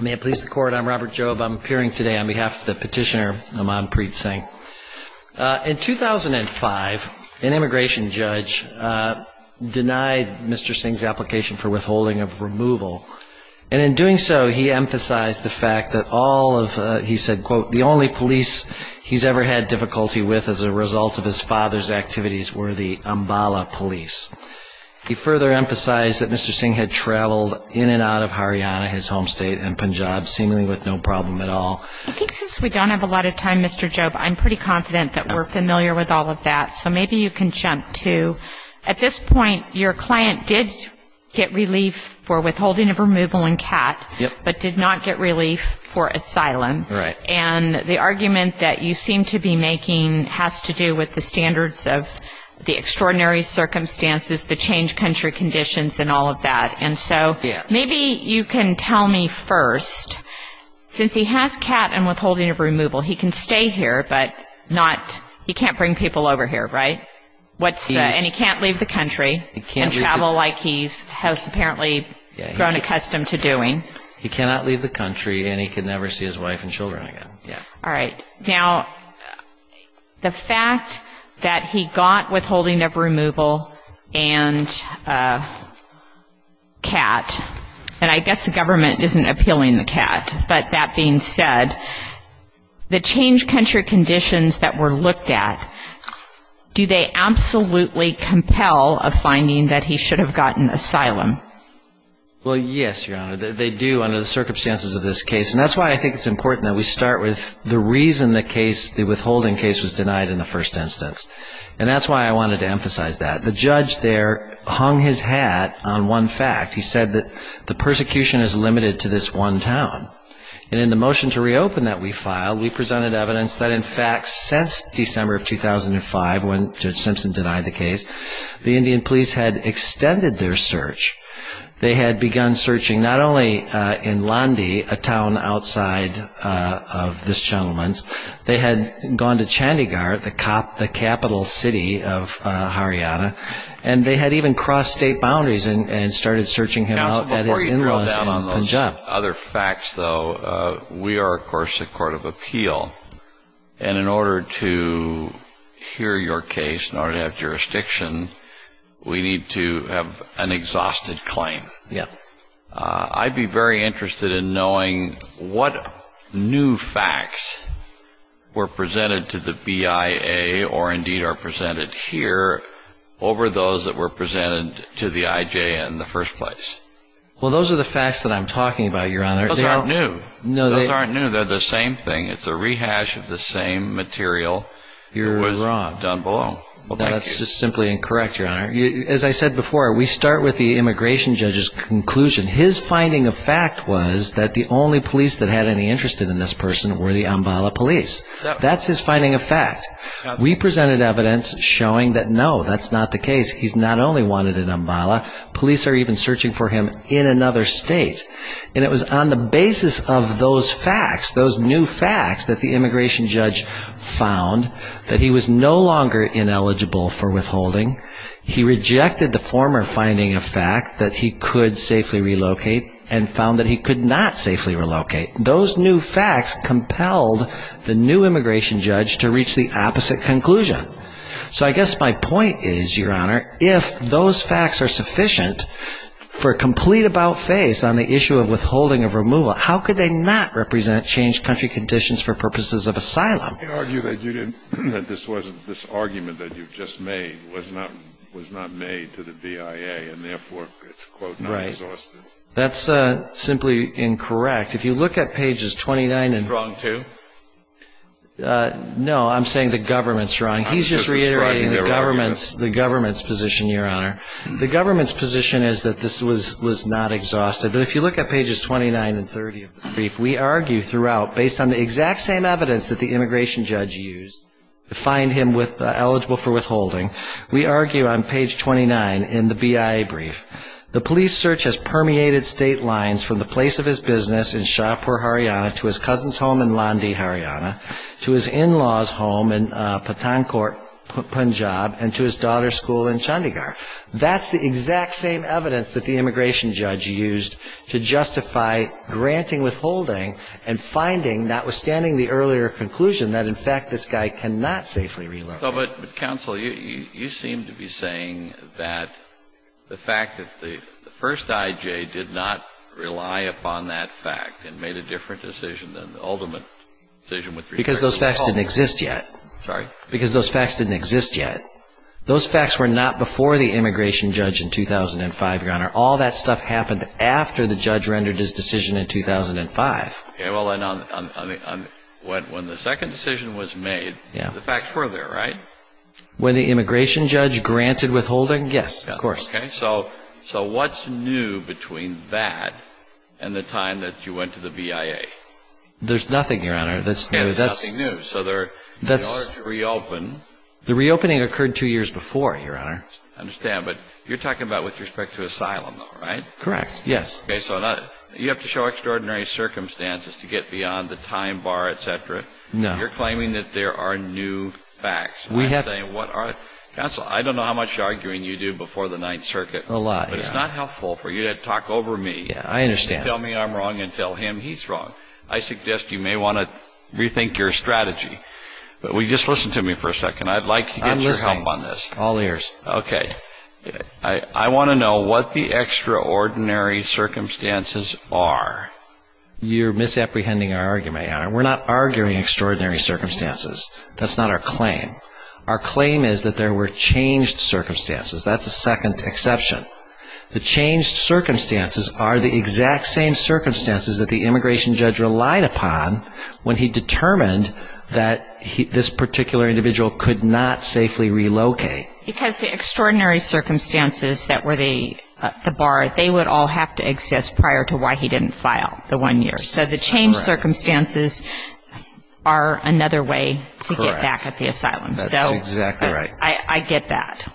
May it please the Court, I'm Robert Jobe. I'm appearing today on behalf of the petitioner, Amanpreet Singh. In 2005, an immigration judge denied Mr. Singh's application for withholding of removal. And in doing so, he emphasized the fact that all of, he said, quote, the only police he's ever had difficulty with as a result of his father's activities were the Ambala police. He further emphasized that Mr. Singh had traveled in and out of Haryana, his home state, and Punjab seemingly with no problem at all. I think since we don't have a lot of time, Mr. Jobe, I'm pretty confident that we're familiar with all of that. So maybe you can jump to, at this point, your client did get relief for withholding of removal in CAT. Yep. But did not get relief for asylum. Right. And the argument that you seem to be making has to do with the standards of the extraordinary circumstances, the changed country conditions and all of that. And so maybe you can tell me first, since he has CAT and withholding of removal, he can stay here, but not, he can't bring people over here, right? And he can't leave the country and travel like he's apparently grown accustomed to doing. He cannot leave the country and he can never see his wife and children again. Yeah. All right. Now, the fact that he got withholding of removal and CAT, and I guess the government isn't appealing the CAT, but that being said, the changed country conditions that were looked at, do they absolutely compel a finding that he should have gotten asylum? Well, yes, Your Honor. They do under the circumstances of this case. And that's why I think it's important that we start with the reason the withholding case was denied in the first instance. And that's why I wanted to emphasize that. The judge there hung his hat on one fact. He said that the persecution is limited to this one town. And in the motion to reopen that we filed, we presented evidence that, in fact, since December of 2005, when Judge Simpson denied the case, the Indian police had extended their search. They had begun searching not only in Landi, a town outside of this gentleman's, they had gone to Chandigarh, the capital city of Haryana, and they had even crossed state boundaries and started searching him out at his in-laws in Punjab. Now, before you drill down on those other facts, though, we are, of course, a court of appeal. And in order to hear your case, in order to have jurisdiction, we need to have an exhausted claim. I'd be very interested in knowing what new facts were presented to the BIA or indeed are presented here over those that were presented to the IJ in the first place. Well, those are the facts that I'm talking about, Your Honor. Those aren't new. Those aren't new. They're the same thing. It's a rehash of the same material that was done below. You're wrong. Well, that's just simply incorrect, Your Honor. As I said before, we start with the immigration judge's conclusion. His finding of fact was that the only police that had any interest in this person were the Ambala police. That's his finding of fact. We presented evidence showing that, no, that's not the case. He's not only wanted in Ambala. Police are even searching for him in another state. And it was on the basis of those facts, those new facts, that the immigration judge found that he was no longer ineligible for withholding. He rejected the former finding of fact that he could safely relocate and found that he could not safely relocate. Those new facts compelled the new immigration judge to reach the opposite conclusion. So I guess my point is, Your Honor, if those facts are sufficient for a complete about-face on the issue of withholding of removal, how could they not represent changed country conditions for purposes of asylum? You argue that this argument that you've just made was not made to the BIA and, therefore, it's, quote, not exhaustive. Right. That's simply incorrect. If you look at pages 29 and ‑‑ You're wrong, too? No, I'm saying the government's wrong. He's just reiterating the government's position, Your Honor. The government's position is that this was not exhaustive. But if you look at pages 29 and 30 of the brief, we argue throughout, based on the exact same evidence that the immigration judge used to find him eligible for withholding, we argue on page 29 in the BIA brief, the police search has permeated state lines from the place of his business in Shahpur, Haryana, to his cousin's home in Landi, Haryana, to his in-law's home in Patankot, Punjab, and to his daughter's school in Chandigarh. That's the exact same evidence that the immigration judge used to justify granting withholding and finding, notwithstanding the earlier conclusion that, in fact, this guy cannot safely relocate. But, counsel, you seem to be saying that the fact that the first I.J. did not rely upon that fact and made a different decision than the ultimate decision with regard to withholding. Because those facts didn't exist yet. Sorry? Because those facts didn't exist yet. Those facts were not before the immigration judge in 2005, Your Honor. All that stuff happened after the judge rendered his decision in 2005. Well, then, when the second decision was made, the facts were there, right? When the immigration judge granted withholding, yes, of course. Okay, so what's new between that and the time that you went to the BIA? There's nothing, Your Honor, that's new. There's nothing new. So they're, in order to reopen... The reopening occurred two years before, Your Honor. I understand, but you're talking about with respect to asylum, though, right? Correct, yes. Okay, so you have to show extraordinary circumstances to get beyond the time bar, etc.? No. You're claiming that there are new facts. We have... Counsel, I don't know how much arguing you do before the Ninth Circuit. A lot, yes. But it's not helpful for you to talk over me. Yes, I understand. To tell me I'm wrong and tell him he's wrong. I suggest you may want to rethink your strategy. But will you just listen to me for a second? I'd like to get your help on this. I'm listening, all ears. Okay, I want to know what the extraordinary circumstances are. You're misapprehending our argument, Your Honor. We're not arguing extraordinary circumstances. That's not our claim. Our claim is that there were changed circumstances. That's a second exception. The changed circumstances are the exact same circumstances that the immigration judge relied upon when he determined that this particular individual could not safely relocate. Because the extraordinary circumstances that were the bar, they would all have to exist prior to why he didn't file the one-year. So the changed circumstances are another way to get back at the asylum. That's exactly right. I get that.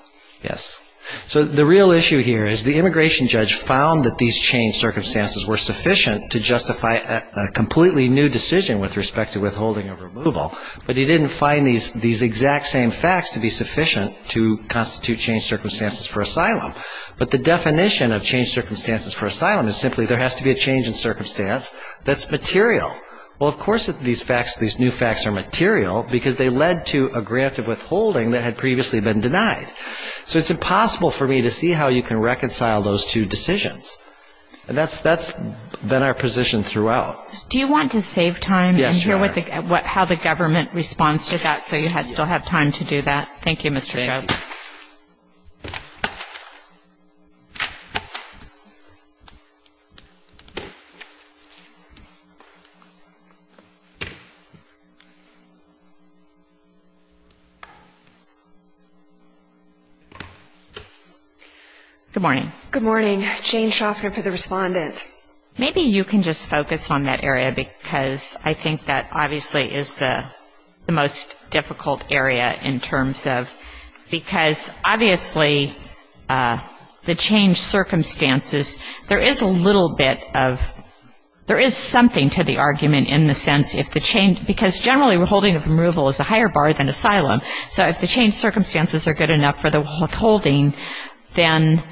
Yes. So the real issue here is the immigration judge found that these changed circumstances were sufficient to justify a completely new decision with respect to withholding or removal. But he didn't find these exact same facts to be sufficient to constitute changed circumstances for asylum. But the definition of changed circumstances for asylum is simply there has to be a change in circumstance that's material. Well, of course these facts, these new facts are material because they led to a grant of withholding that had previously been denied. So it's impossible for me to see how you can reconcile those two decisions. And that's been our position throughout. Do you want to save time and hear how the government responds to that so you still have time to do that? Thank you, Mr. Chau. Thank you. Good morning. Good morning. Jane Shoffner for the Respondent. Maybe you can just focus on that area because I think that obviously is the most difficult area in terms of because obviously the changed circumstances, there is a little bit of, there is something to the argument in the sense if the change, because generally withholding of removal is a higher bar than asylum. So if the changed circumstances are good enough for the withholding, then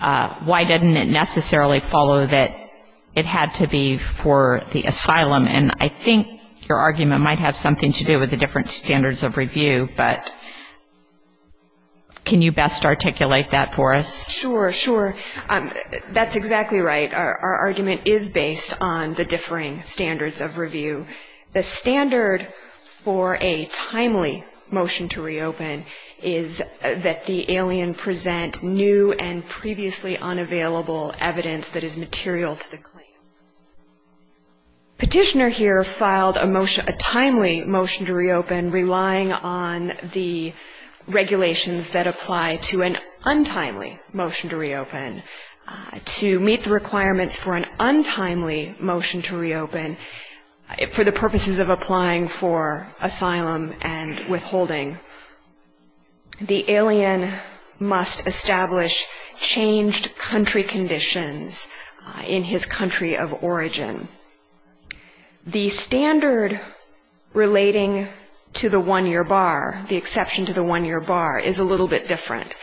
why didn't it necessarily follow that it had to be for the asylum? And I think your argument might have something to do with the different standards of review, but can you best articulate that for us? Sure, sure. That's exactly right. Our argument is based on the differing standards of review. The standard for a timely motion to reopen is that the alien present new and previously unavailable evidence that is material to the claim. Petitioner here filed a timely motion to reopen relying on the regulations that apply to an untimely motion to reopen. To meet the requirements for an untimely motion to reopen, for the purposes of applying for asylum and withholding, the alien must establish changed country conditions in his country of origin. The standard relating to the one-year bar, the exception to the one-year bar, is a little bit different.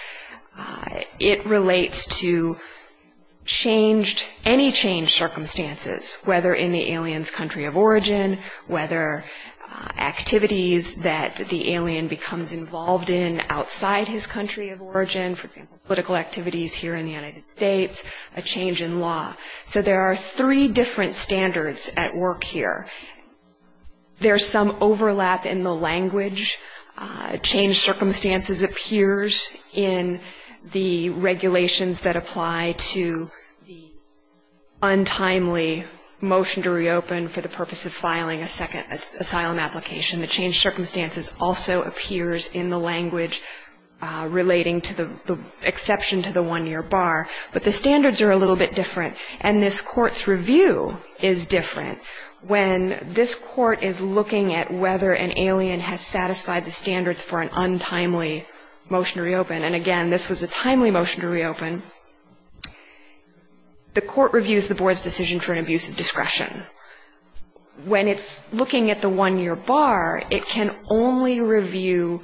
It relates to any changed circumstances, whether in the alien's country of origin, whether activities that the alien becomes involved in outside his country of origin, for example, political activities here in the United States, a change in law. So there are three different standards at work here. There's some overlap in the language. Changed circumstances appears in the regulations that apply to the untimely motion to reopen for the purpose of filing a second asylum application. The changed circumstances also appears in the language relating to the exception to the one-year bar. But the standards are a little bit different, and this Court's review is different. When this Court is looking at whether an alien has satisfied the standards for an untimely motion to reopen, and again, this was a timely motion to reopen, the Court reviews the Board's decision for an abuse of discretion. When it's looking at the one-year bar, it can only review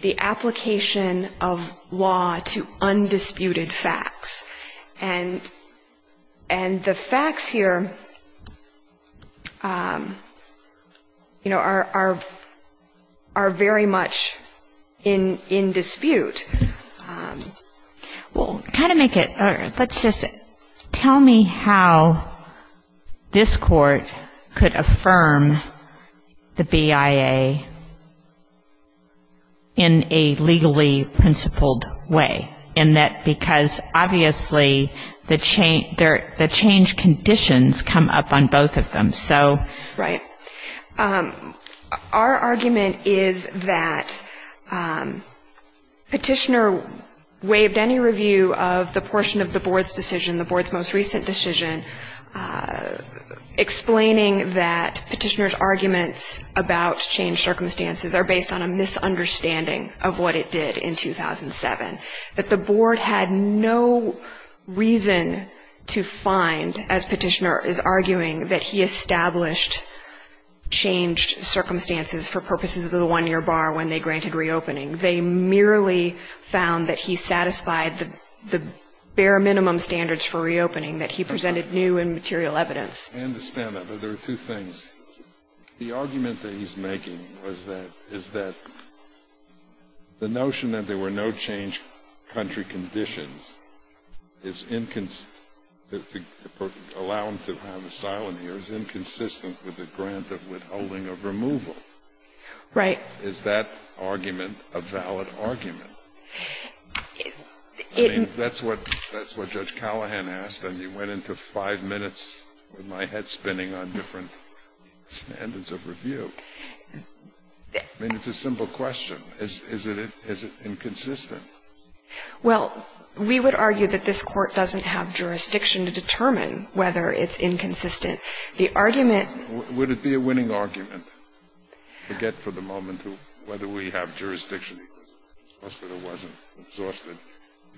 the application of law to undisputed facts. And the facts here, you know, are very much in dispute. Well, kind of make it, let's just, tell me how this Court could affirm the BIA in a legally principled way, in that because obviously the change conditions come up on both of them. Right. Our argument is that Petitioner waived any review of the portion of the Board's decision, the Board's most recent decision, explaining that Petitioner's arguments about changed circumstances are based on a misunderstanding of what it did in 2007. That the Board had no reason to find, as Petitioner is arguing, that he established changed circumstances for purposes of the one-year bar when they granted reopening. They merely found that he satisfied the bare minimum standards for reopening, that he presented new and material evidence. I understand that, but there are two things. The argument that he's making is that the notion that there were no changed country conditions allow him to have asylum here is inconsistent with the grant of withholding of removal. Right. Is that argument a valid argument? I mean, that's what Judge Callahan asked, and you went into five minutes with my head spinning on different standards of review. I mean, it's a simple question. Is it inconsistent? Well, we would argue that this Court doesn't have jurisdiction to determine whether it's inconsistent. The argument – Would it be a winning argument to get for the moment whether we have jurisdiction to determine whether the city was exhausted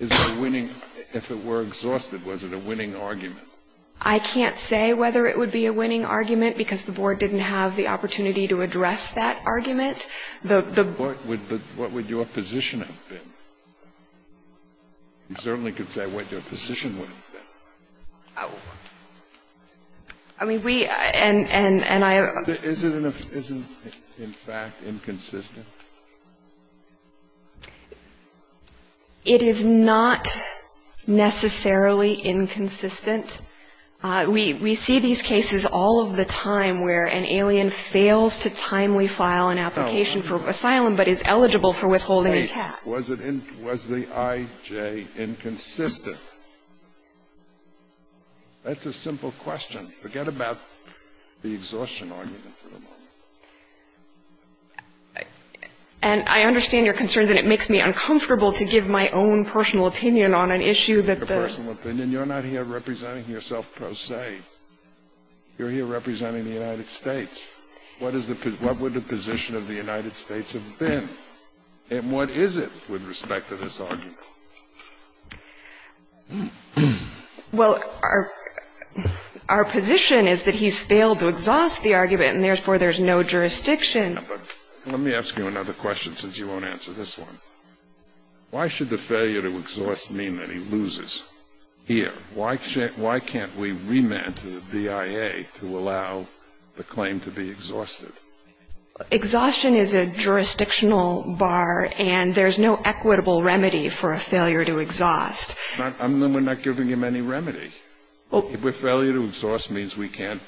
or wasn't exhausted? If it were exhausted, was it a winning argument? I can't say whether it would be a winning argument, because the Board didn't have the opportunity to address that argument. What would your position have been? You certainly could say what your position would have been. I mean, we – and I – Is it in fact inconsistent? It is not necessarily inconsistent. We see these cases all of the time where an alien fails to timely file an application for asylum but is eligible for withholding tax. Was the I.J. inconsistent? That's a simple question. Forget about the exhaustion argument for the moment. And I understand your concerns, and it makes me uncomfortable to give my own personal opinion on an issue that the – Your personal opinion. You're not here representing yourself per se. You're here representing the United States. What is the – what would the position of the United States have been? And what is it with respect to this argument? Well, our position is that he's failed to exhaust the argument, and therefore there's no jurisdiction. Now, but let me ask you another question since you won't answer this one. Why should the failure to exhaust mean that he loses here? Why can't we remand to the BIA to allow the claim to be exhausted? Exhaustion is a jurisdictional bar, and there's no equitable remedy for a failure to exhaust. We're not giving him any remedy. A failure to exhaust means we can't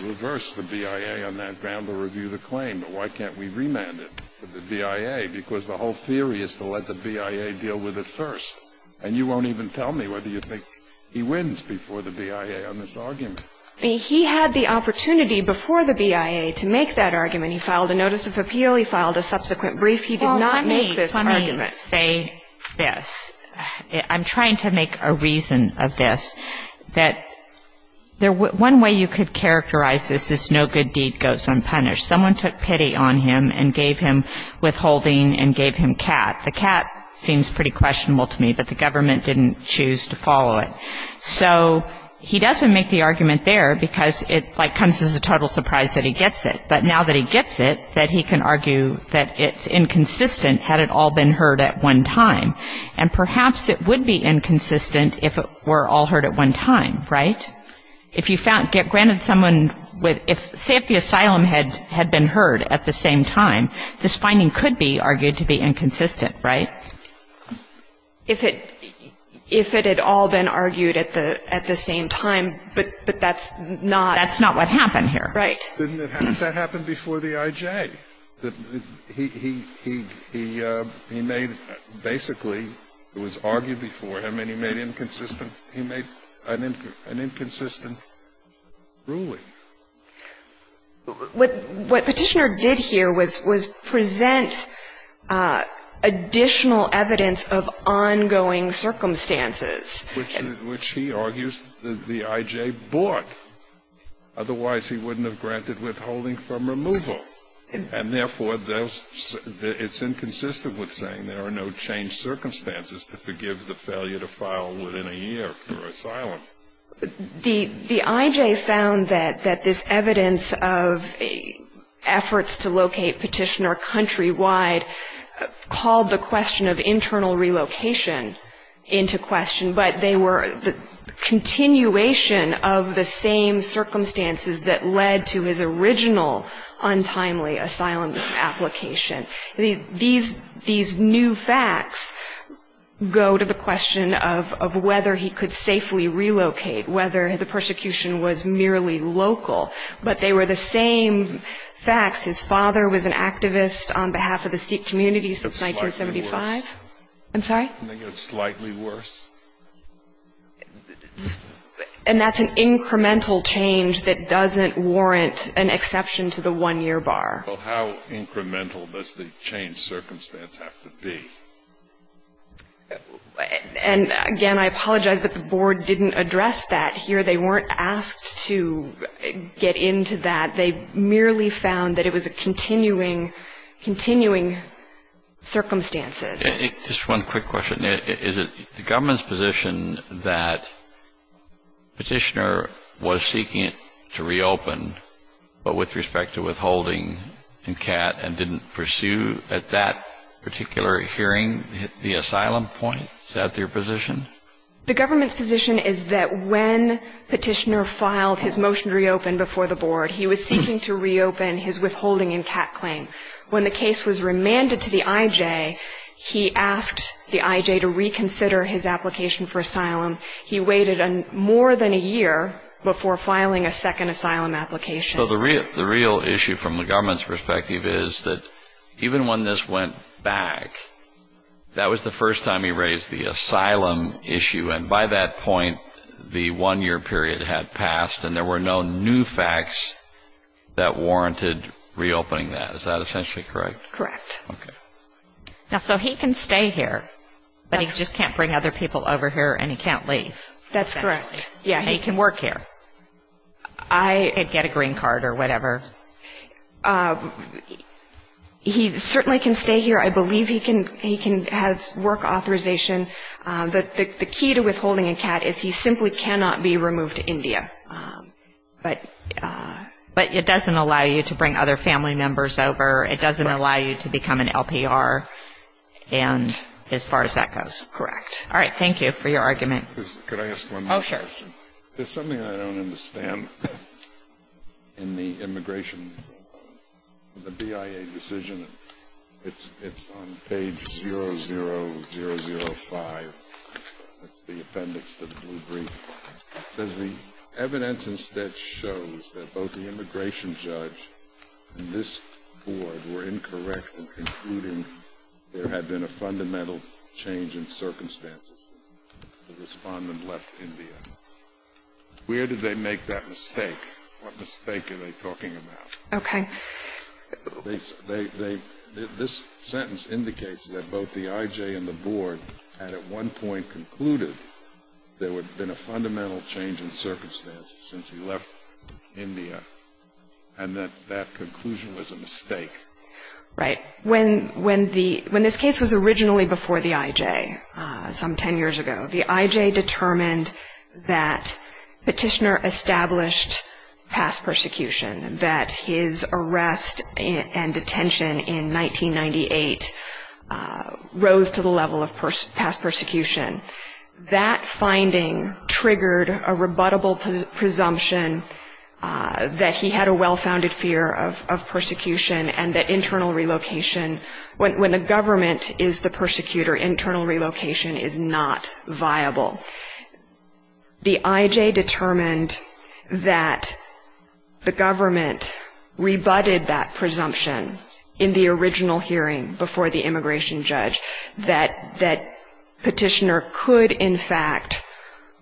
reverse the BIA on that ground to review the claim. But why can't we remand it to the BIA? Because the whole theory is to let the BIA deal with it first. And you won't even tell me whether you think he wins before the BIA on this argument. He had the opportunity before the BIA to make that argument. He filed a notice of appeal. He really filed a subsequent brief. He did not make this argument. Well, let me say this. I'm trying to make a reason of this, that one way you could characterize this is no good deed goes unpunished. Someone took pity on him and gave him withholding and gave him cat. The cat seems pretty questionable to me, but the government didn't choose to follow it. So he doesn't make the argument there because it, like, comes as a total surprise that he gets it. But now that he gets it, that he can argue that it's inconsistent had it all been heard at one time. And perhaps it would be inconsistent if it were all heard at one time, right? If you get granted someone with ‑‑ say if the asylum had been heard at the same time, this finding could be argued to be inconsistent, right? If it had all been argued at the same time, but that's not ‑‑ That's not what happened here. Right. Didn't that happen before the I.J.? He made basically, it was argued before him, and he made inconsistent ‑‑ he made an inconsistent ruling. What Petitioner did here was present additional evidence of ongoing circumstances. Which he argues that the I.J. bought. Otherwise, he wouldn't have granted withholding from removal. And therefore, it's inconsistent with saying there are no changed circumstances to forgive the failure to file within a year for asylum. The I.J. found that this evidence of efforts to locate Petitioner countrywide called the question of internal relocation into question. But they were the continuation of the same circumstances that led to his original untimely asylum application. These new facts go to the question of whether he could safely relocate, whether the persecution was merely local. But they were the same facts. His father was an activist on behalf of the Sikh community since 1975. Can they get slightly worse? I'm sorry? Can they get slightly worse? And that's an incremental change that doesn't warrant an exception to the one‑year bar. Well, how incremental does the changed circumstance have to be? And, again, I apologize, but the board didn't address that here. They weren't asked to get into that. They merely found that it was a continuing, continuing circumstances. Just one quick question. Is it the government's position that Petitioner was seeking to reopen, but with respect to withholding and CAT, and didn't pursue at that particular hearing the asylum point? Is that their position? The government's position is that when Petitioner filed his motion to reopen before the board, he was seeking to reopen his withholding and CAT claim. When the case was remanded to the IJ, he asked the IJ to reconsider his application for asylum. He waited more than a year before filing a second asylum application. So the real issue from the government's perspective is that even when this went back, that was the first time he raised the asylum issue. And by that point, the one‑year period had passed, and there were no new facts that warranted reopening that. Is that essentially correct? Correct. Okay. So he can stay here, but he just can't bring other people over here, and he can't leave. That's correct. He can work here and get a green card or whatever. He certainly can stay here. I believe he can have work authorization. The key to withholding a CAT is he simply cannot be removed to India. But it doesn't allow you to bring other family members over. It doesn't allow you to become an LPR as far as that goes. Correct. All right. Thank you for your argument. Could I ask one more question? Oh, sure. There's something I don't understand in the immigration, the BIA decision. It's on page 0005. That's the appendix to the blue brief. It says the evidence instead shows that both the immigration judge and this board were incorrect in concluding there had been a fundamental change in circumstances since the Respondent left India. Where did they make that mistake? What mistake are they talking about? Okay. This sentence indicates that both the IJ and the board had at one point concluded there had been a fundamental change in circumstances since he left India, and that that conclusion was a mistake. Right. When this case was originally before the IJ some ten years ago, the IJ determined that Petitioner established past persecution, that his arrest and detention in 1998 rose to the level of past persecution. That finding triggered a rebuttable presumption that he had a well-founded fear of When the government is the persecutor, internal relocation is not viable. The IJ determined that the government rebutted that presumption in the original hearing before the immigration judge that Petitioner could, in fact,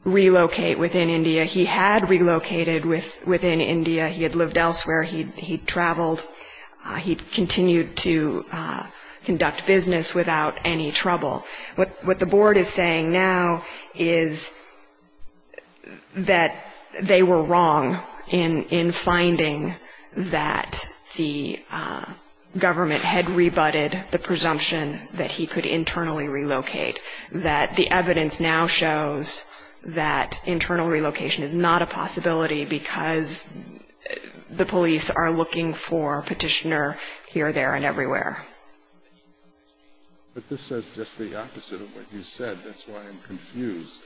relocate within India. He had relocated within India. He had lived elsewhere. He had traveled. He continued to conduct business without any trouble. What the board is saying now is that they were wrong in finding that the government had rebutted the presumption that he could internally relocate, that the evidence now shows that internal relocation is not a possibility because the police are looking for Petitioner here, there, and everywhere. But this says just the opposite of what you said. That's why I'm confused.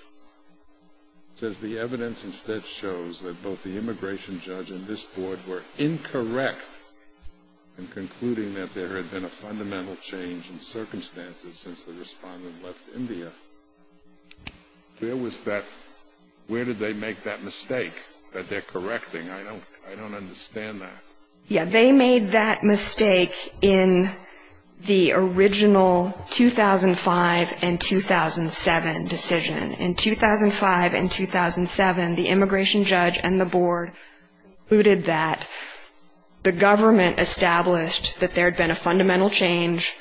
It says the evidence instead shows that both the immigration judge and this board were incorrect in concluding that there had been a fundamental change in circumstances since the respondent left India. Where was that? Where did they make that mistake that they're correcting? I don't understand that. Yeah, they made that mistake in the original 2005 and 2007 decision. In 2005 and 2007, the immigration judge and the board concluded that the government established that there had been a fundamental change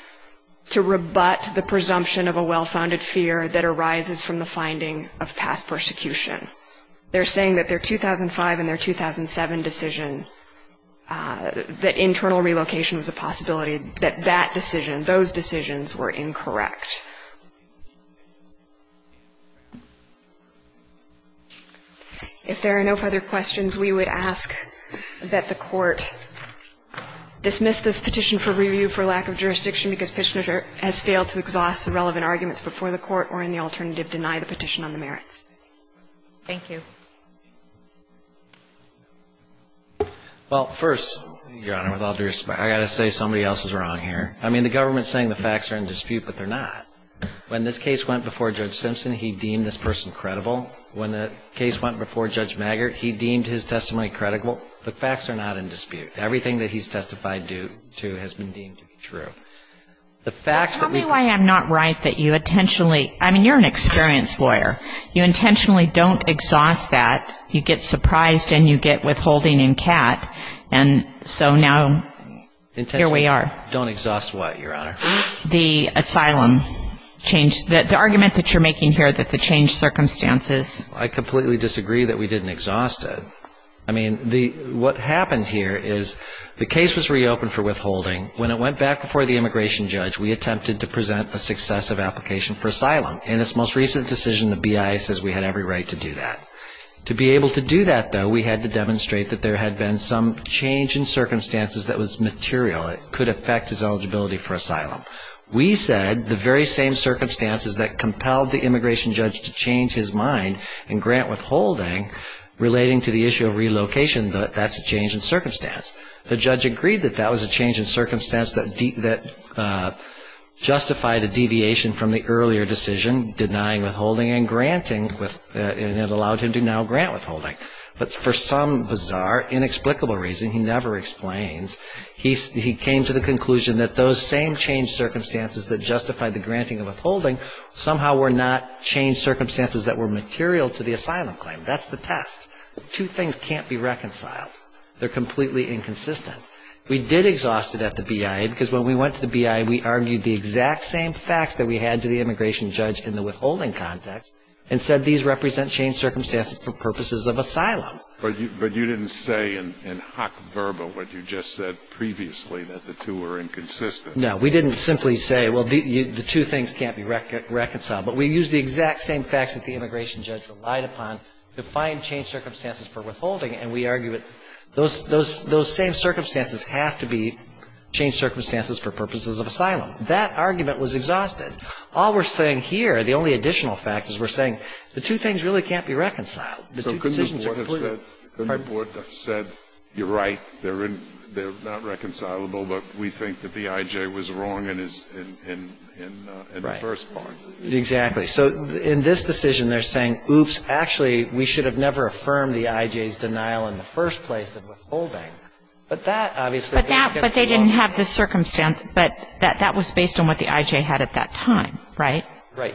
to rebut the presumption of a well-founded fear that arises from the finding of past persecution. They're saying that their 2005 and their 2007 decision that internal relocation was a possibility, that that decision, those decisions were incorrect. If there are no further questions, we would ask that the Court dismiss this petition for review for lack of jurisdiction because Petitioner has failed to exhaust the relevant arguments before the Court or, in the alternative, deny the petition on the merits. Thank you. Well, first, Your Honor, with all due respect, I've got to say somebody else is wrong here. I mean, the government is saying the facts are in dispute, but they're not. When this case went before Judge Simpson, he deemed this person credible. When the case went before Judge Maggert, he deemed his testimony credible. The facts are not in dispute. Everything that he's testified to has been deemed to be true. The facts that we've been Well, tell me why I'm not right that you intentionally, I mean, you're an experienced lawyer. You intentionally don't exhaust that. You get surprised and you get withholding in cat, and so now here we are. Intentionally don't exhaust what, Your Honor? The asylum change, the argument that you're making here that the changed circumstances I completely disagree that we didn't exhaust it. I mean, what happened here is the case was reopened for withholding. When it went back before the immigration judge, we attempted to present a successive application for asylum. In its most recent decision, the BIA says we had every right to do that. To be able to do that, though, we had to demonstrate that there had been some change in circumstances that was material. It could affect his eligibility for asylum. We said the very same circumstances that compelled the immigration judge to change his mind and grant withholding relating to the issue of relocation, that that's a change in circumstance. The judge agreed that that was a change in circumstance that justified a deviation from the earlier decision denying withholding and granting, and it allowed him to now grant withholding. But for some bizarre, inexplicable reason, he never explains, he came to the conclusion that those same changed circumstances that justified the granting of withholding somehow were not changed circumstances that were material to the asylum claim. That's the test. Two things can't be reconciled. They're completely inconsistent. We did exhaust it at the BIA because when we went to the BIA, we argued the exact same facts that we had to the immigration judge in the withholding context and said these represent changed circumstances for purposes of asylum. But you didn't say in hoc verba what you just said previously, that the two were inconsistent. No. We didn't simply say, well, the two things can't be reconciled. But we used the exact same facts that the immigration judge relied upon to find changed circumstances for withholding, and we argue that those same circumstances have to be changed circumstances for purposes of asylum. That argument was exhausted. All we're saying here, the only additional fact, is we're saying the two things really can't be reconciled. The two decisions are completely different. Scalia. So couldn't the board have said, you're right, they're not reconcilable, but we think that the I.J. was wrong in the first part? Exactly. So in this decision, they're saying, oops, actually, we should have never affirmed the I.J.'s denial in the first place in withholding. But that obviously is against the law. But they didn't have the circumstance, but that was based on what the I.J. had at that time, right?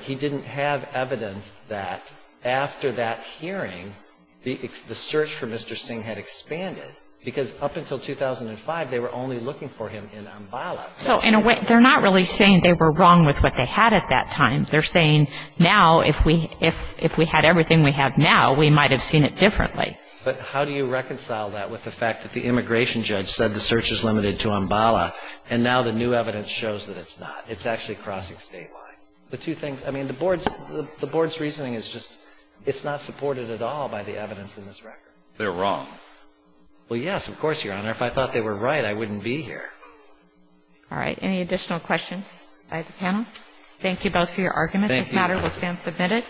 He didn't have evidence that after that hearing, the search for Mr. Singh had expanded, because up until 2005, they were only looking for him in Ambala. So in a way, they're not really saying they were wrong with what they had at that time. They're saying now, if we had everything we have now, we might have seen it differently. But how do you reconcile that with the fact that the immigration judge said the search is limited to Ambala, and now the new evidence shows that it's not? It's actually crossing state lines. The two things. I mean, the Board's reasoning is just it's not supported at all by the evidence in this record. They're wrong. Well, yes, of course, Your Honor. If I thought they were right, I wouldn't be here. All right. Any additional questions by the panel? Thank you both for your arguments. This matter will stand submitted.